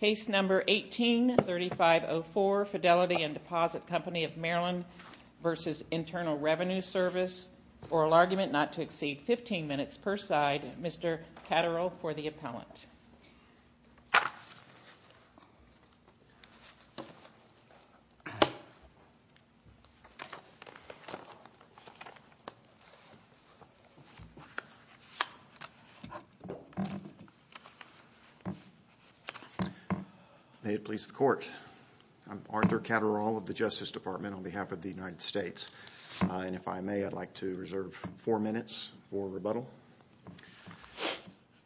Case No. 18-3504, Fidelity and Deposit Company of Maryland v. Internal Revenue Service Oral argument not to exceed 15 minutes per side. Mr. Catterall for the appellant. May it please the court. I'm Arthur Catterall of the Justice Department on behalf of the United States. And if I may, I'd like to reserve four minutes for rebuttal.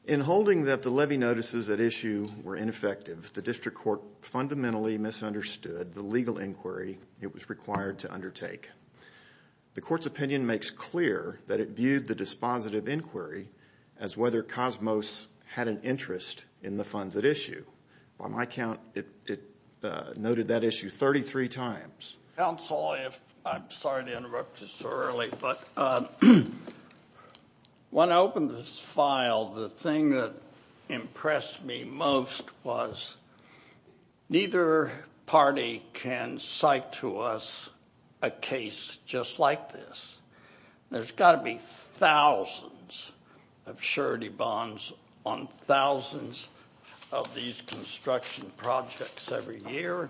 In holding that the levy notices at issue were ineffective, the district court fundamentally misunderstood the legal inquiry it was required to undertake. The court's opinion makes clear that it viewed the dispositive inquiry as whether Cosmos had an interest in the funds at issue. By my count, it noted that issue 33 times. Counsel, I'm sorry to interrupt you so early, but when I opened this file, the thing that impressed me most was neither party can cite to us a case just like this. There's got to be thousands of surety bonds on thousands of these construction projects every year.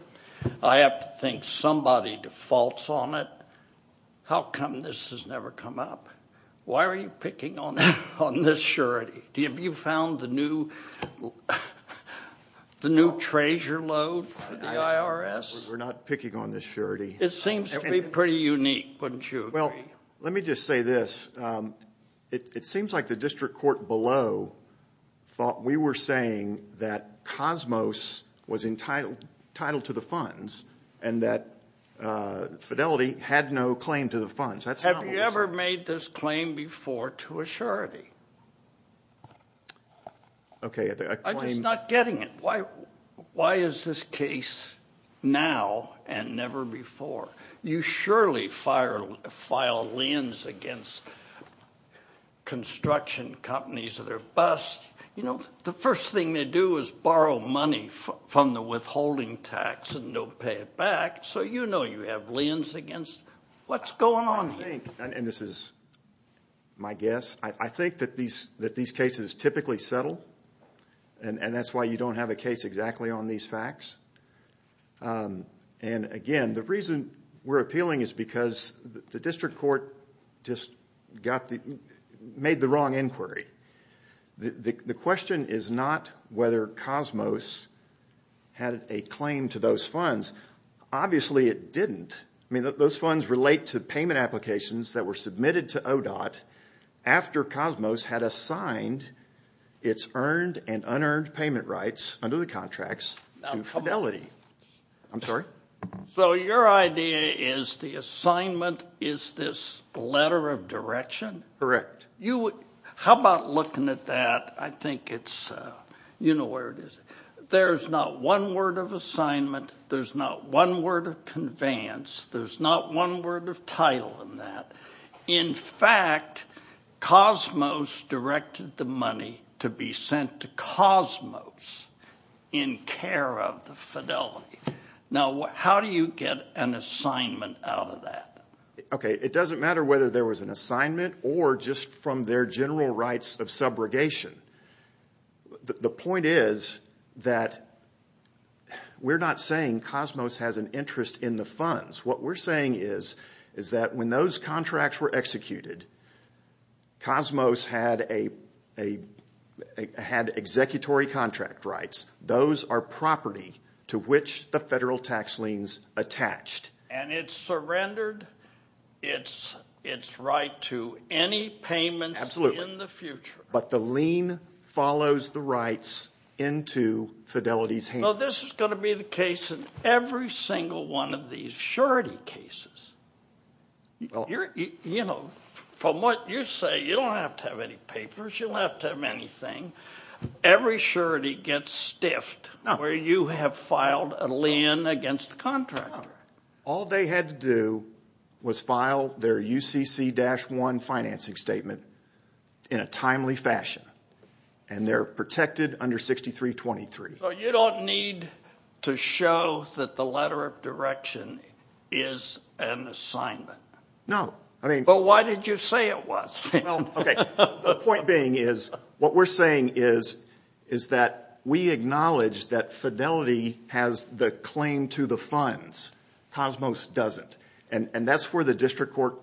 I have to think somebody defaults on it. How come this has never come up? Why are you picking on this surety? Have you found the new treasure load for the IRS? We're not picking on this surety. It seems to be pretty unique, wouldn't you agree? Well, let me just say this. It seems like the district court below thought we were saying that Cosmos was entitled to the funds and that Fidelity had no claim to the funds. Have you ever made this claim before to a surety? I'm just not getting it. Why is this case now and never before? You surely file liens against construction companies that are bust. The first thing they do is borrow money from the withholding tax and don't pay it back, so you know you have liens against. What's going on here? This is my guess. I think that these cases typically settle, and that's why you don't have a case exactly on these facts. Again, the reason we're appealing is because the district court just made the wrong inquiry. The question is not whether Cosmos had a claim to those funds. Obviously, it didn't. I mean, those funds relate to payment applications that were submitted to ODOT after Cosmos had assigned its earned and unearned payment rights under the contracts to Fidelity. I'm sorry? So your idea is the assignment is this letter of direction? Correct. How about looking at that? You know where it is. There's not one word of assignment. There's not one word of conveyance. There's not one word of title in that. In fact, Cosmos directed the money to be sent to Cosmos in care of the Fidelity. Now, how do you get an assignment out of that? Okay, it doesn't matter whether there was an assignment or just from their general rights of subrogation. The point is that we're not saying Cosmos has an interest in the funds. What we're saying is that when those contracts were executed, Cosmos had executory contract rights. Those are property to which the federal tax liens attached. And it surrendered its right to any payments in the future. Absolutely. But the lien follows the rights into Fidelity's hands. Now, this is going to be the case in every single one of these surety cases. You know, from what you say, you don't have to have any papers. You don't have to have anything. Every surety gets stiffed where you have filed a lien against the contractor. All they had to do was file their UCC-1 financing statement in a timely fashion. And they're protected under 6323. So you don't need to show that the letter of direction is an assignment. No. But why did you say it was? The point being is what we're saying is that we acknowledge that Fidelity has the claim to the funds. Cosmos doesn't. And that's where the district court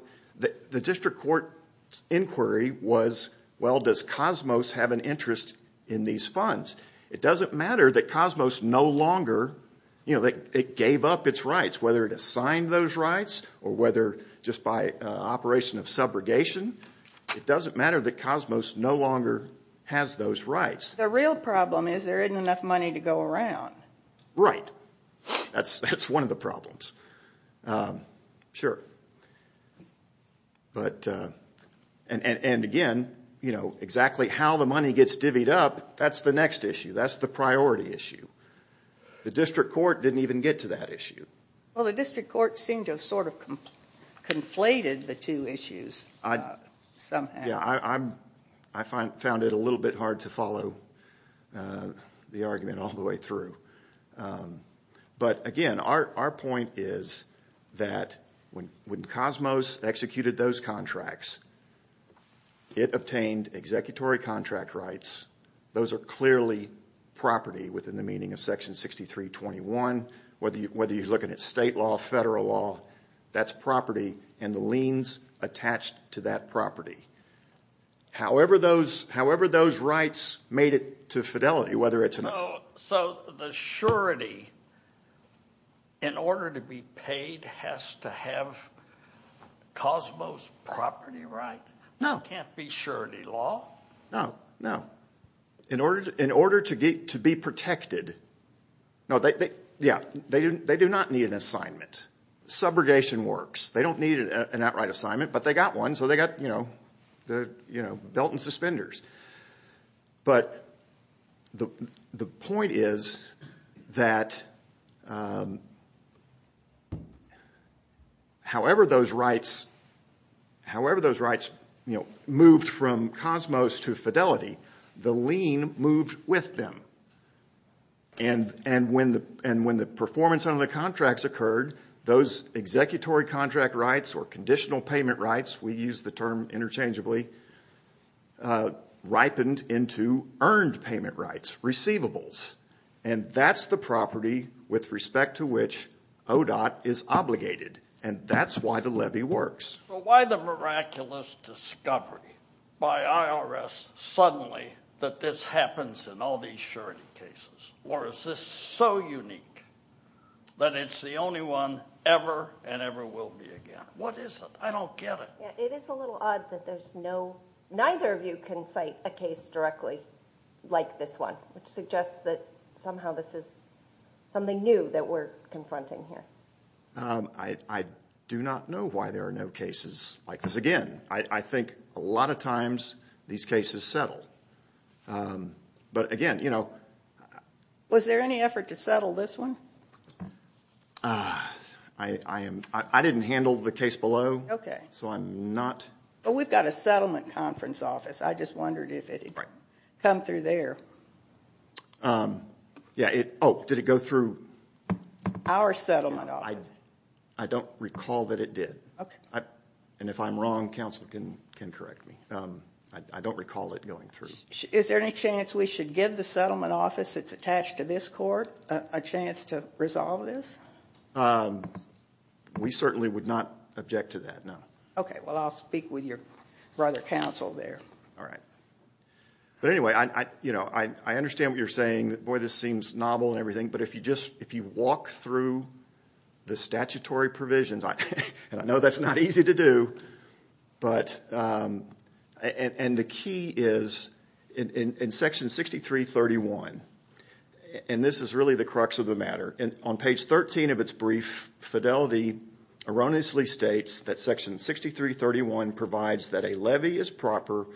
inquiry was, well, does Cosmos have an interest in these funds? It doesn't matter that Cosmos no longer gave up its rights, whether it assigned those rights or whether just by operation of subrogation, it doesn't matter that Cosmos no longer has those rights. The real problem is there isn't enough money to go around. Right. That's one of the problems. Sure. And, again, you know, exactly how the money gets divvied up, that's the next issue. That's the priority issue. The district court didn't even get to that issue. Well, the district court seemed to have sort of conflated the two issues somehow. Yeah, I found it a little bit hard to follow the argument all the way through. But, again, our point is that when Cosmos executed those contracts, it obtained executory contract rights. Those are clearly property within the meaning of Section 6321, whether you're looking at state law, federal law, that's property, and the liens attached to that property. However those rights made it to fidelity, whether it's in a ---- So the surety, in order to be paid, has to have Cosmos' property right? No. It can't be surety law? No, no. In order to be protected, yeah, they do not need an assignment. Subrogation works. They don't need an outright assignment, but they got one, so they got, you know, belt and suspenders. But the point is that however those rights moved from Cosmos to fidelity, the lien moved with them. And when the performance under the contracts occurred, those executory contract rights or conditional payment rights, we use the term interchangeably, ripened into earned payment rights, receivables. And that's the property with respect to which ODOT is obligated, and that's why the levy works. But why the miraculous discovery by IRS suddenly that this happens in all these surety cases? Or is this so unique that it's the only one ever and ever will be again? What is it? I don't get it. It is a little odd that there's no, neither of you can cite a case directly like this one, which suggests that somehow this is something new that we're confronting here. I do not know why there are no cases like this. Again, I think a lot of times these cases settle. But again, you know. Was there any effort to settle this one? I didn't handle the case below. Okay. So I'm not. But we've got a settlement conference office. I just wondered if it had come through there. Yeah. Oh, did it go through? Our settlement office. I don't recall that it did. Okay. And if I'm wrong, counsel can correct me. I don't recall it going through. Is there any chance we should give the settlement office that's attached to this court a chance to resolve this? We certainly would not object to that, no. Okay. Well, I'll speak with your brother counsel there. All right. But anyway, you know, I understand what you're saying. Boy, this seems novel and everything. But if you just, if you walk through the statutory provisions, and I know that's not easy to do, and the key is in section 6331, and this is really the crux of the matter, on page 13 of its brief, fidelity erroneously states that section 6331 provides that a levy is proper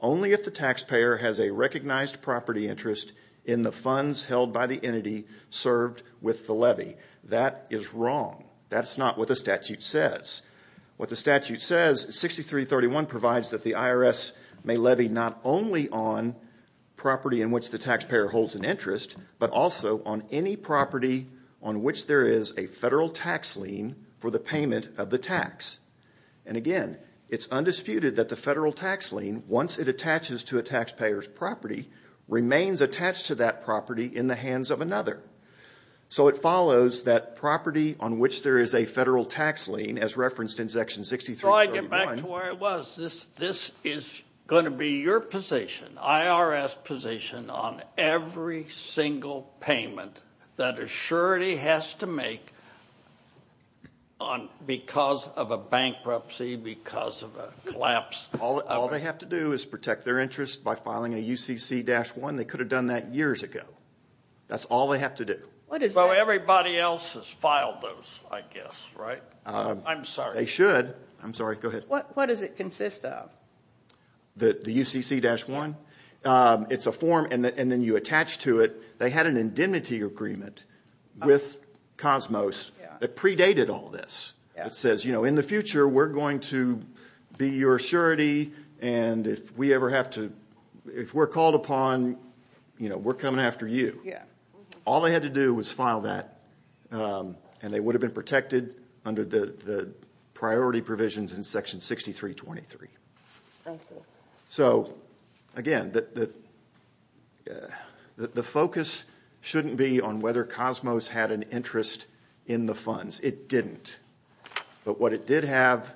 only if the taxpayer has a recognized property interest in the funds held by the entity served with the levy. That is wrong. That's not what the statute says. What the statute says, 6331 provides that the IRS may levy not only on property in which the taxpayer holds an interest, but also on any property on which there is a federal tax lien for the payment of the tax. And again, it's undisputed that the federal tax lien, once it attaches to a taxpayer's property, remains attached to that property in the hands of another. So it follows that property on which there is a federal tax lien, as referenced in section 6331. So I get back to where I was. This is going to be your position, IRS position, on every single payment that a surety has to make because of a bankruptcy, because of a collapse. All they have to do is protect their interest by filing a UCC-1. They could have done that years ago. That's all they have to do. But everybody else has filed those, I guess, right? I'm sorry. They should. I'm sorry. Go ahead. What does it consist of? The UCC-1. It's a form, and then you attach to it. They had an indemnity agreement with Cosmos that predated all this. It says, you know, in the future, we're going to be your surety, and if we're called upon, you know, we're coming after you. All they had to do was file that, and they would have been protected under the priority provisions in section 6323. I see. So, again, the focus shouldn't be on whether Cosmos had an interest in the funds. It didn't. But what it did have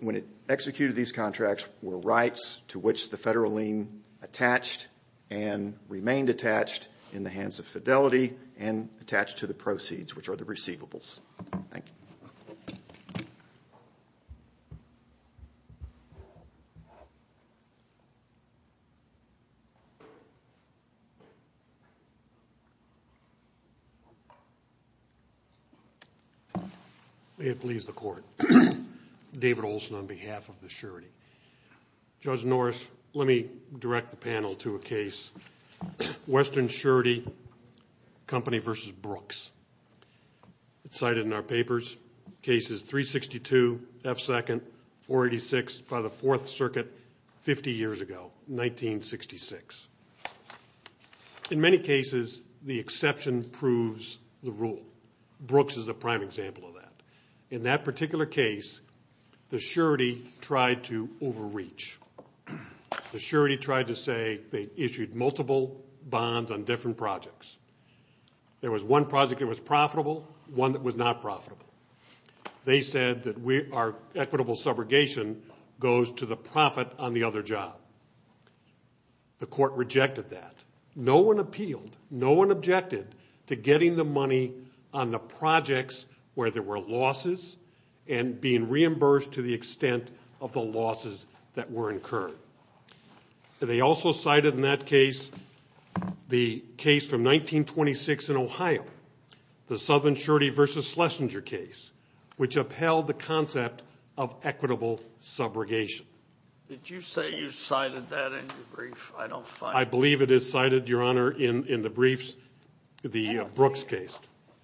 when it executed these contracts were rights to which the federal lien attached and remained attached in the hands of Fidelity and attached to the proceeds, which are the receivables. Thank you. May it please the Court. David Olson on behalf of the surety. Judge Norris, let me direct the panel to a case, Western Surety Company v. Brooks. It's cited in our papers. Case is 362 F2nd 486 by the Fourth Circuit 50 years ago, 1966. In many cases, the exception proves the rule. Brooks is a prime example of that. In that particular case, the surety tried to overreach. The surety tried to say they issued multiple bonds on different projects. There was one project that was profitable, one that was not profitable. They said that our equitable subrogation goes to the profit on the other job. The Court rejected that. No one appealed, no one objected to getting the money on the projects where there were losses and being reimbursed to the extent of the losses that were incurred. They also cited in that case the case from 1926 in Ohio, the Southern Surety v. Schlesinger case, which upheld the concept of equitable subrogation. Did you say you cited that in your brief? I don't find it. I believe it is cited, Your Honor, in the briefs, the Brooks case.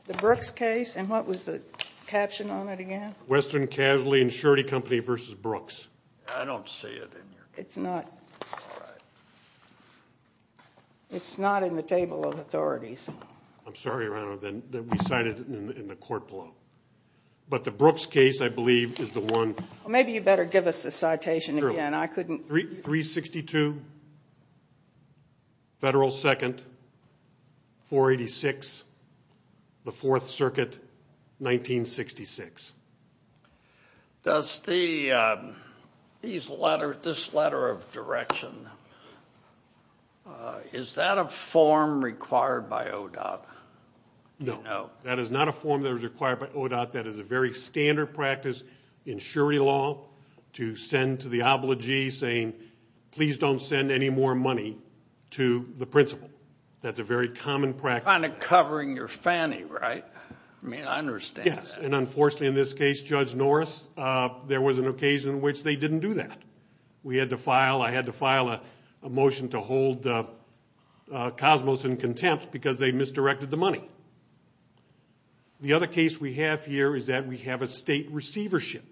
The Brooks case? And what was the caption on it again? Western Casualty and Surety Company v. Brooks. I don't see it in your case. It's not. All right. It's not in the table of authorities. I'm sorry, Your Honor, that we cited it in the court below. But the Brooks case, I believe, is the one. Maybe you better give us the citation again. I couldn't. 362, Federal 2nd, 486, the Fourth Circuit, 1966. This letter of direction, is that a form required by ODOT? No. That is not a form that was required by ODOT. That is a very standard practice in surety law to send to the obligee saying, please don't send any more money to the principal. That's a very common practice. Kind of covering your fanny, right? I mean, I understand that. Yes, and unfortunately in this case, Judge Norris, there was an occasion in which they didn't do that. I had to file a motion to hold Cosmos in contempt because they misdirected the money. The other case we have here is that we have a state receivership.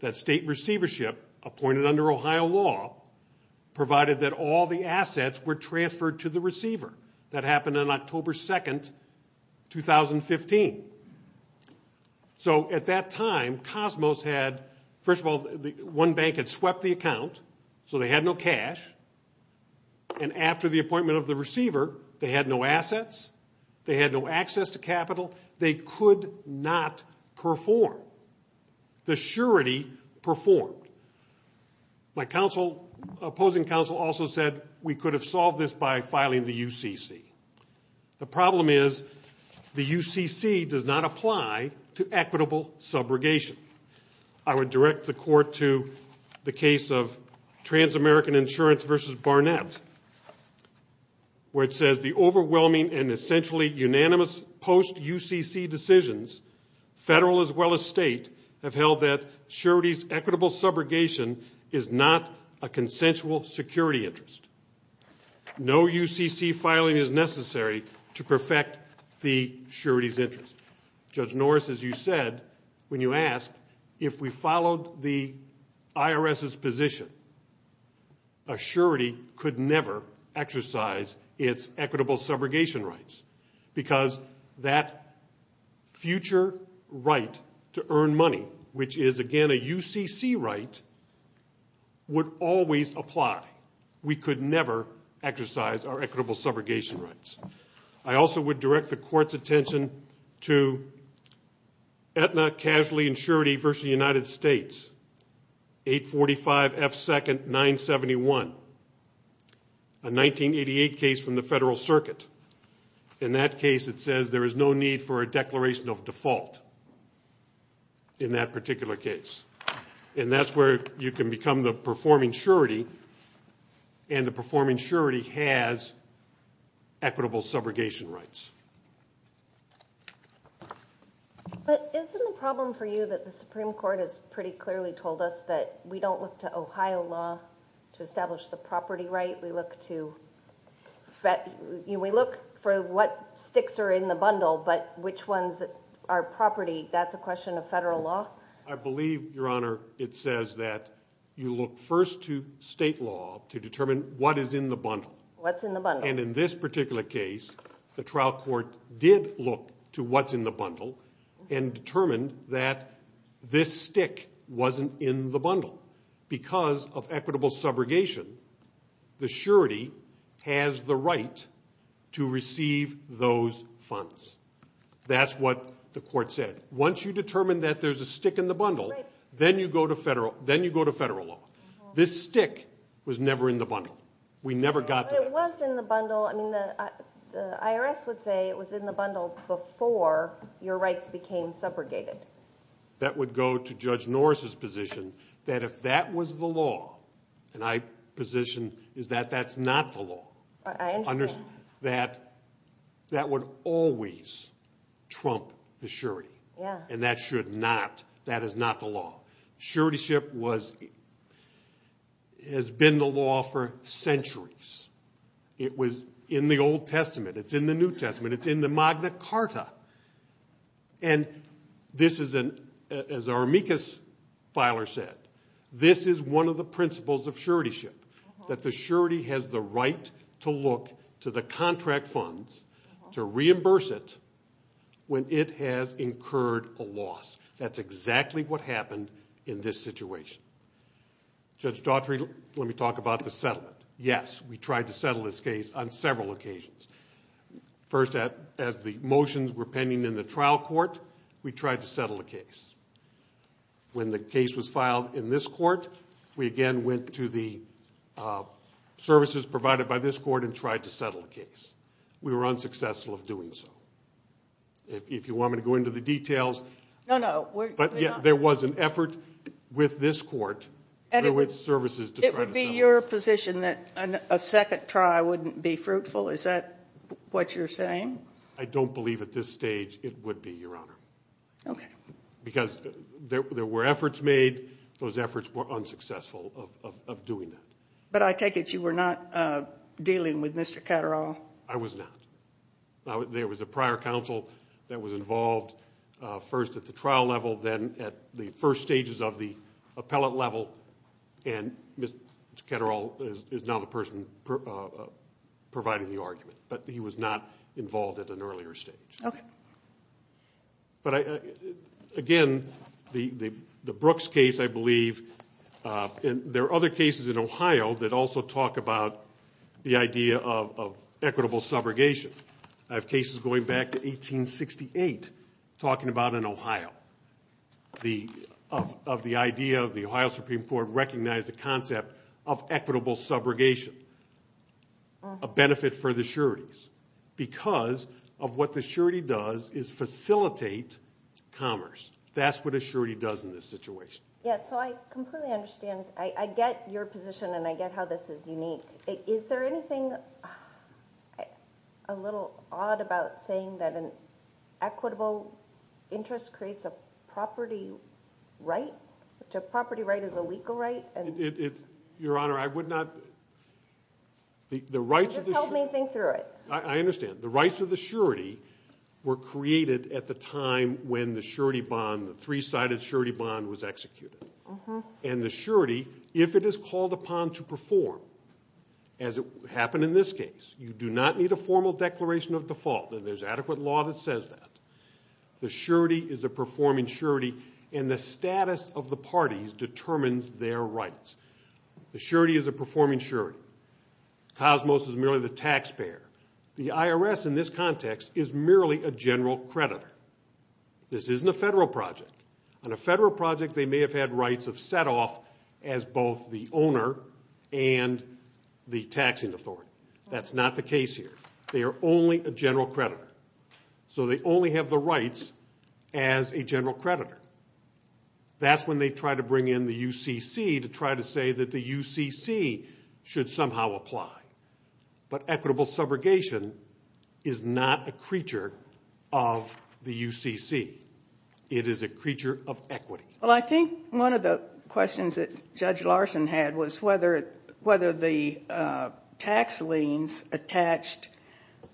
That state receivership, appointed under Ohio law, provided that all the assets were transferred to the receiver. That happened on October 2nd, 2015. So at that time, Cosmos had, first of all, one bank had swept the account. So they had no cash. And after the appointment of the receiver, they had no assets. They had no access to capital. They could not perform. The surety performed. My opposing counsel also said we could have solved this by filing the UCC. The problem is the UCC does not apply to equitable subrogation. I would direct the court to the case of Trans-American Insurance v. Barnett, where it says the overwhelming and essentially unanimous post-UCC decisions, federal as well as state, have held that surety's equitable subrogation is not a consensual security interest. No UCC filing is necessary to perfect the surety's interest. Judge Norris, as you said when you asked, if we followed the IRS's position, a surety could never exercise its equitable subrogation rights because that future right to earn money, which is, again, a UCC right, would always apply. We could never exercise our equitable subrogation rights. I also would direct the court's attention to Aetna Casualty and Surety v. United States, 845F2nd971, a 1988 case from the Federal Circuit. In that case, it says there is no need for a declaration of default in that particular case. And that's where you can become the performing surety, and the performing surety has equitable subrogation rights. But isn't the problem for you that the Supreme Court has pretty clearly told us that we don't look to Ohio law to establish the property right? We look for what sticks are in the bundle, but which ones are property? That's a question of federal law? I believe, Your Honor, it says that you look first to state law to determine what is in the bundle. What's in the bundle? And in this particular case, the trial court did look to what's in the bundle and determined that this stick wasn't in the bundle. Because of equitable subrogation, the surety has the right to receive those funds. That's what the court said. Once you determine that there's a stick in the bundle, then you go to federal law. This stick was never in the bundle. We never got to that. But it was in the bundle. I mean, the IRS would say it was in the bundle before your rights became subrogated. That would go to Judge Norris's position that if that was the law, and my position is that that's not the law. I understand. That that would always trump the surety. And that should not. That is not the law. Suretyship has been the law for centuries. It was in the Old Testament. It's in the New Testament. It's in the Magna Carta. And this is, as our amicus filer said, this is one of the principles of suretyship, that the surety has the right to look to the contract funds to reimburse it when it has incurred a loss. That's exactly what happened in this situation. Judge Daughtry, let me talk about the settlement. Yes, we tried to settle this case on several occasions. First, as the motions were pending in the trial court, we tried to settle the case. When the case was filed in this court, we again went to the services provided by this court and tried to settle the case. We were unsuccessful of doing so. If you want me to go into the details. No, no. But there was an effort with this court and with services to try to settle it. It would be your position that a second try wouldn't be fruitful? Is that what you're saying? I don't believe at this stage it would be, Your Honor. Okay. Because there were efforts made. Those efforts were unsuccessful of doing that. But I take it you were not dealing with Mr. Ketterall? I was not. There was a prior counsel that was involved first at the trial level, then at the first stages of the appellate level, and Mr. Ketterall is now the person providing the argument, but he was not involved at an earlier stage. Okay. But, again, the Brooks case, I believe, and there are other cases in Ohio that also talk about the idea of equitable subrogation. I have cases going back to 1868 talking about in Ohio of the idea of the Ohio Supreme Court recognized the concept of equitable subrogation, a benefit for the sureties, because of what the surety does is facilitate commerce. That's what a surety does in this situation. Yes, so I completely understand. I get your position and I get how this is unique. Is there anything a little odd about saying that an equitable interest creates a property right, which a property right is a legal right? Your Honor, I would not – the rights of the – Just help me think through it. I understand. The rights of the surety were created at the time when the surety bond, the three-sided surety bond, was executed. And the surety, if it is called upon to perform, as happened in this case, you do not need a formal declaration of default, and there's adequate law that says that. The surety is a performing surety, and the status of the parties determines their rights. The surety is a performing surety. Cosmos is merely the taxpayer. The IRS in this context is merely a general creditor. This isn't a federal project. On a federal project, they may have had rights of set-off as both the owner and the taxing authority. That's not the case here. They are only a general creditor. So they only have the rights as a general creditor. That's when they try to bring in the UCC to try to say that the UCC should somehow apply. But equitable subrogation is not a creature of the UCC. It is a creature of equity. Well, I think one of the questions that Judge Larson had was whether the tax liens attached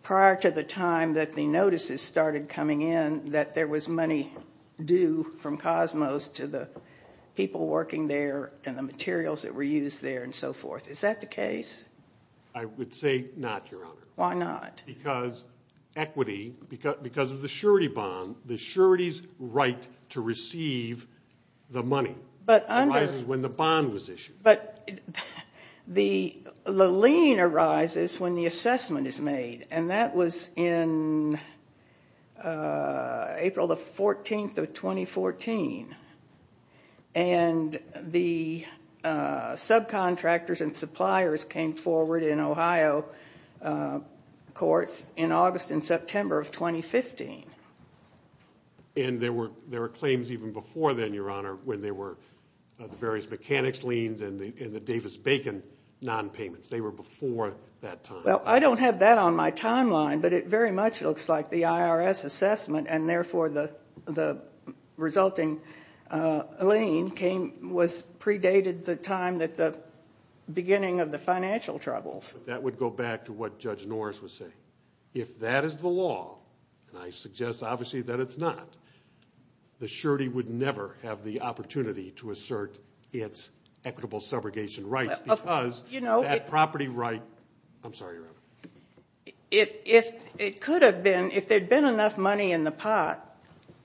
prior to the time that the notices started coming in that there was money due from Cosmos to the people working there and the materials that were used there and so forth. Is that the case? I would say not, Your Honor. Why not? Because equity, because of the surety bond, the surety's right to receive the money arises when the bond was issued. But the lien arises when the assessment is made, and that was in April the 14th of 2014. And the subcontractors and suppliers came forward in Ohio courts in August and September of 2015. And there were claims even before then, Your Honor, when there were various mechanics liens and the Davis-Bacon nonpayments. They were before that time. Well, I don't have that on my timeline, but it very much looks like the IRS assessment and therefore the resulting lien was predated the time that the beginning of the financial troubles. That would go back to what Judge Norris was saying. If that is the law, and I suggest obviously that it's not, the surety would never have the opportunity to assert its equitable subrogation rights because that property right – I'm sorry, Your Honor. If it could have been, if there had been enough money in the pot,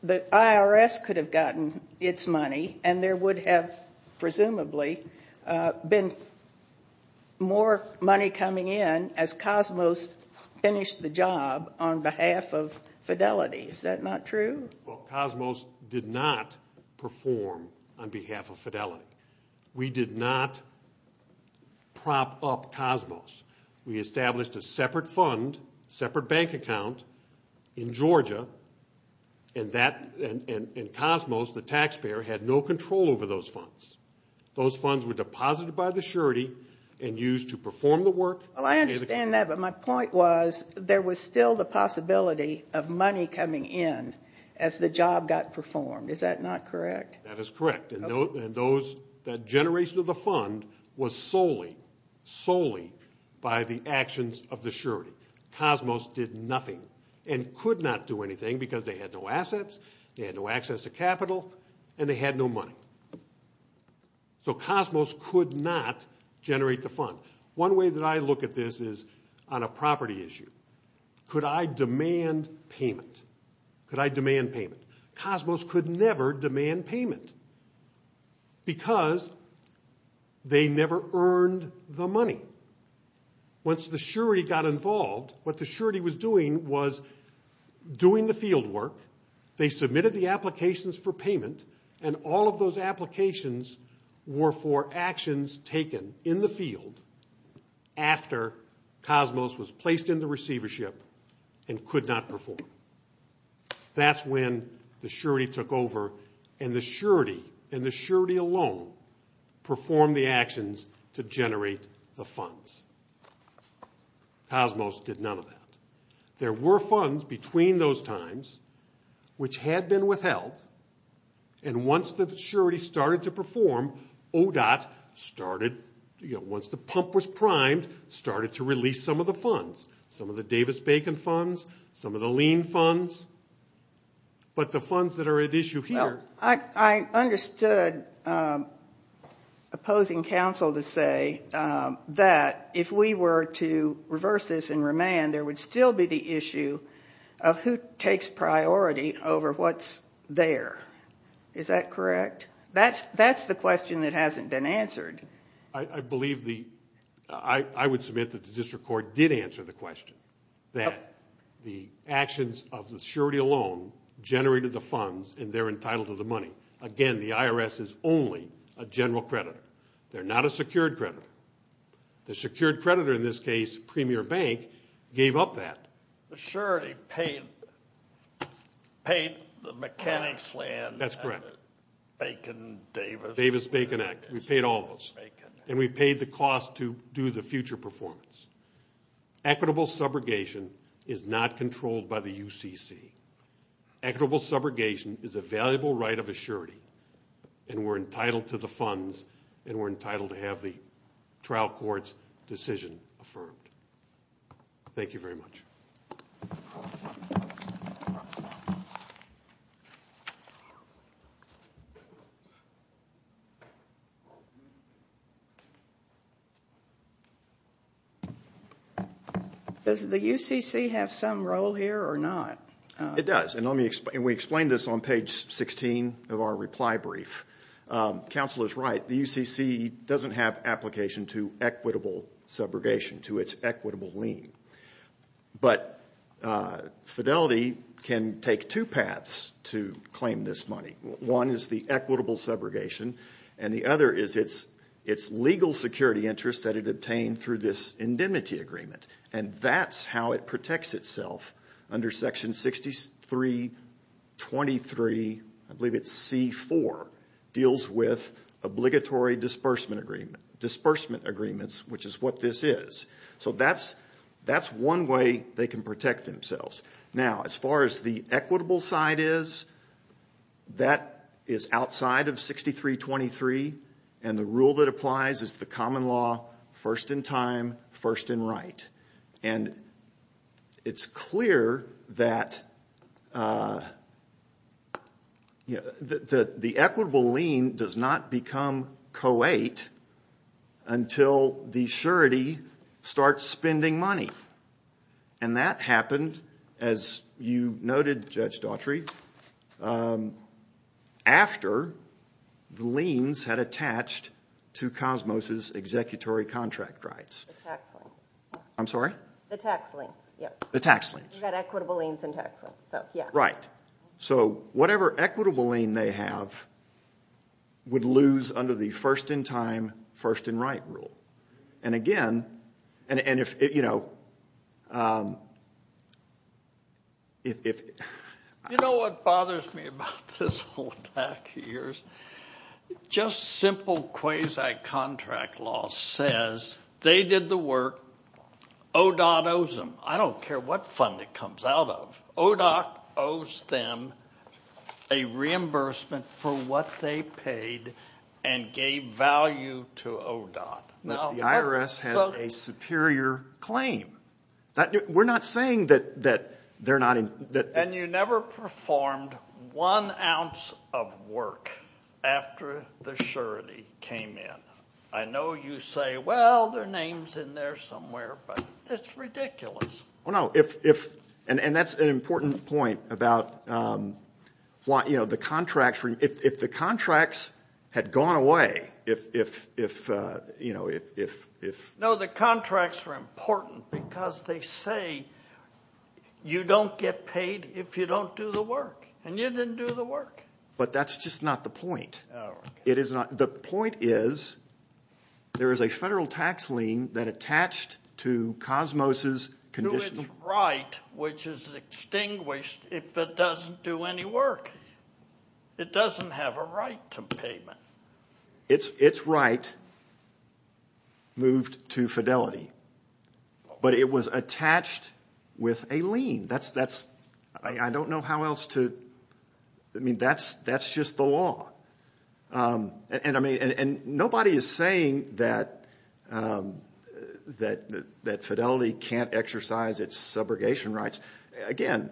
the IRS could have gotten its money and there would have presumably been more money coming in as Cosmos finished the job on behalf of Fidelity. Is that not true? Well, Cosmos did not perform on behalf of Fidelity. We did not prop up Cosmos. We established a separate fund, separate bank account in Georgia, and Cosmos, the taxpayer, had no control over those funds. Those funds were deposited by the surety and used to perform the work. Well, I understand that, but my point was there was still the possibility of money coming in as the job got performed. Is that not correct? That is correct. And that generation of the fund was solely, solely by the actions of the surety. Cosmos did nothing and could not do anything because they had no assets, they had no access to capital, and they had no money. So Cosmos could not generate the fund. One way that I look at this is on a property issue. Could I demand payment? Could I demand payment? Cosmos could never demand payment because they never earned the money. Once the surety got involved, what the surety was doing was doing the field work, they submitted the applications for payment, and all of those applications were for actions taken in the field after Cosmos was placed in the receivership and could not perform. That's when the surety took over and the surety and the surety alone performed the actions to generate the funds. Cosmos did none of that. There were funds between those times which had been withheld, and once the surety started to perform, ODOT started, once the pump was primed, started to release some of the funds, some of the Davis-Bacon funds, some of the lien funds, but the funds that are at issue here. Well, I understood opposing counsel to say that if we were to reverse this and remand, there would still be the issue of who takes priority over what's there. Is that correct? That's the question that hasn't been answered. I believe the – I would submit that the district court did answer the question that the actions of the surety alone generated the funds, and they're entitled to the money. Again, the IRS is only a general creditor. They're not a secured creditor. The secured creditor in this case, Premier Bank, gave up that. The surety paid the mechanics land and the Bacon-Davis. Davis-Bacon Act. We paid all of those, and we paid the cost to do the future performance. Equitable subrogation is not controlled by the UCC. Equitable subrogation is a valuable right of a surety, and we're entitled to the funds, and we're entitled to have the trial court's decision affirmed. Thank you very much. Does the UCC have some role here or not? It does, and we explained this on page 16 of our reply brief. Counsel is right. The UCC doesn't have application to equitable subrogation, to its equitable lien. But Fidelity can take two paths to claim this money. One is the equitable subrogation, and the other is its legal security interest that it obtained through this indemnity agreement, and that's how it protects itself under Section 6323, I believe it's C4, deals with obligatory disbursement agreements, which is what this is. So that's one way they can protect themselves. Now, as far as the equitable side is, that is outside of 6323, and the rule that applies is the common law, first in time, first in right. And it's clear that the equitable lien does not become co-ate until the surety starts spending money. And that happened, as you noted, Judge Daughtry, after the liens had attached to Cosmos' executory contract rights. The tax liens. I'm sorry? The tax liens, yes. The tax liens. You've got equitable liens and tax liens, so yeah. Right. So whatever equitable lien they have would lose under the first in time, first in right rule. And, again, and if, you know, if you know what bothers me about this whole pack of years? Just simple quasi-contract law says they did the work. ODOT owes them. I don't care what fund it comes out of. ODOT owes them a reimbursement for what they paid and gave value to ODOT. The IRS has a superior claim. We're not saying that they're not in. And you never performed one ounce of work after the surety came in. I know you say, well, their name's in there somewhere, but it's ridiculous. Oh, no. And that's an important point about, you know, the contracts. If the contracts had gone away, if, you know, if. No, the contracts were important because they say you don't get paid if you don't do the work. And you didn't do the work. But that's just not the point. Oh, okay. The point is there is a federal tax lien that attached to Cosmos' condition. To its right, which is extinguished if it doesn't do any work. It doesn't have a right to payment. Its right moved to fidelity. But it was attached with a lien. That's, I don't know how else to, I mean, that's just the law. And, I mean, nobody is saying that fidelity can't exercise its subrogation rights. Again,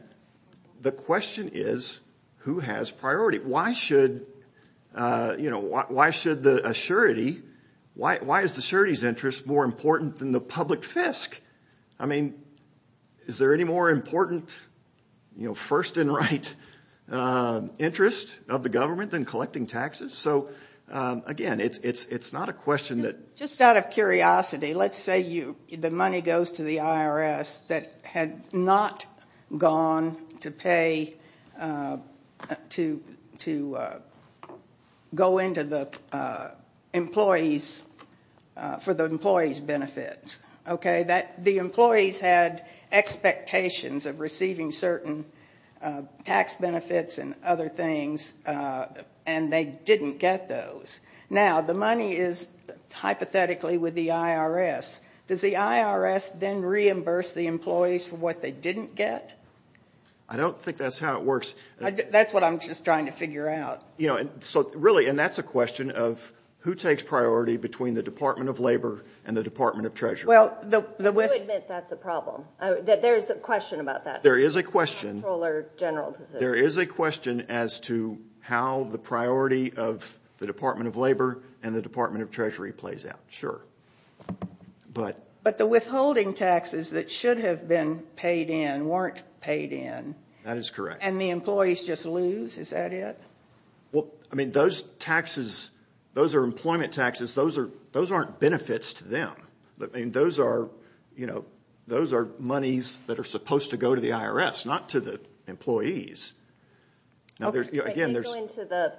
the question is who has priority? Why should, you know, why should the surety, why is the surety's interest more important than the public fisc? I mean, is there any more important, you know, first and right interest of the government than collecting taxes? So, again, it's not a question that. Just out of curiosity, let's say the money goes to the IRS that had not gone to pay to go into the employees for the employees' benefits. Okay. The employees had expectations of receiving certain tax benefits and other things, and they didn't get those. Now, the money is hypothetically with the IRS. Does the IRS then reimburse the employees for what they didn't get? I don't think that's how it works. That's what I'm just trying to figure out. You know, so really, and that's a question of who takes priority between the Department of Labor and the Department of Treasury. Well, the. I would admit that's a problem, that there is a question about that. There is a question. There is a question as to how the priority of the Department of Labor and the Department of Treasury plays out. Sure. But. But the withholding taxes that should have been paid in weren't paid in. That is correct. And the employees just lose? Is that it? Well, I mean, those taxes, those are employment taxes. Those aren't benefits to them. I mean, those are, you know, those are monies that are supposed to go to the IRS, not to the employees. Okay. They go into the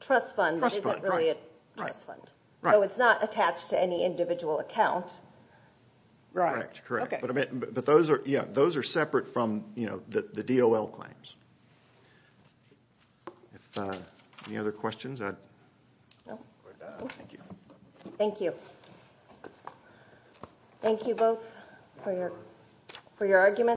trust fund. Trust fund, right. It isn't really a trust fund. Right. So it's not attached to any individual account. Right. Correct. Okay. But those are, yeah, those are separate from, you know, the DOL claims. Any other questions? No. We're done. Thank you. Thank you. Thank you both for your arguments.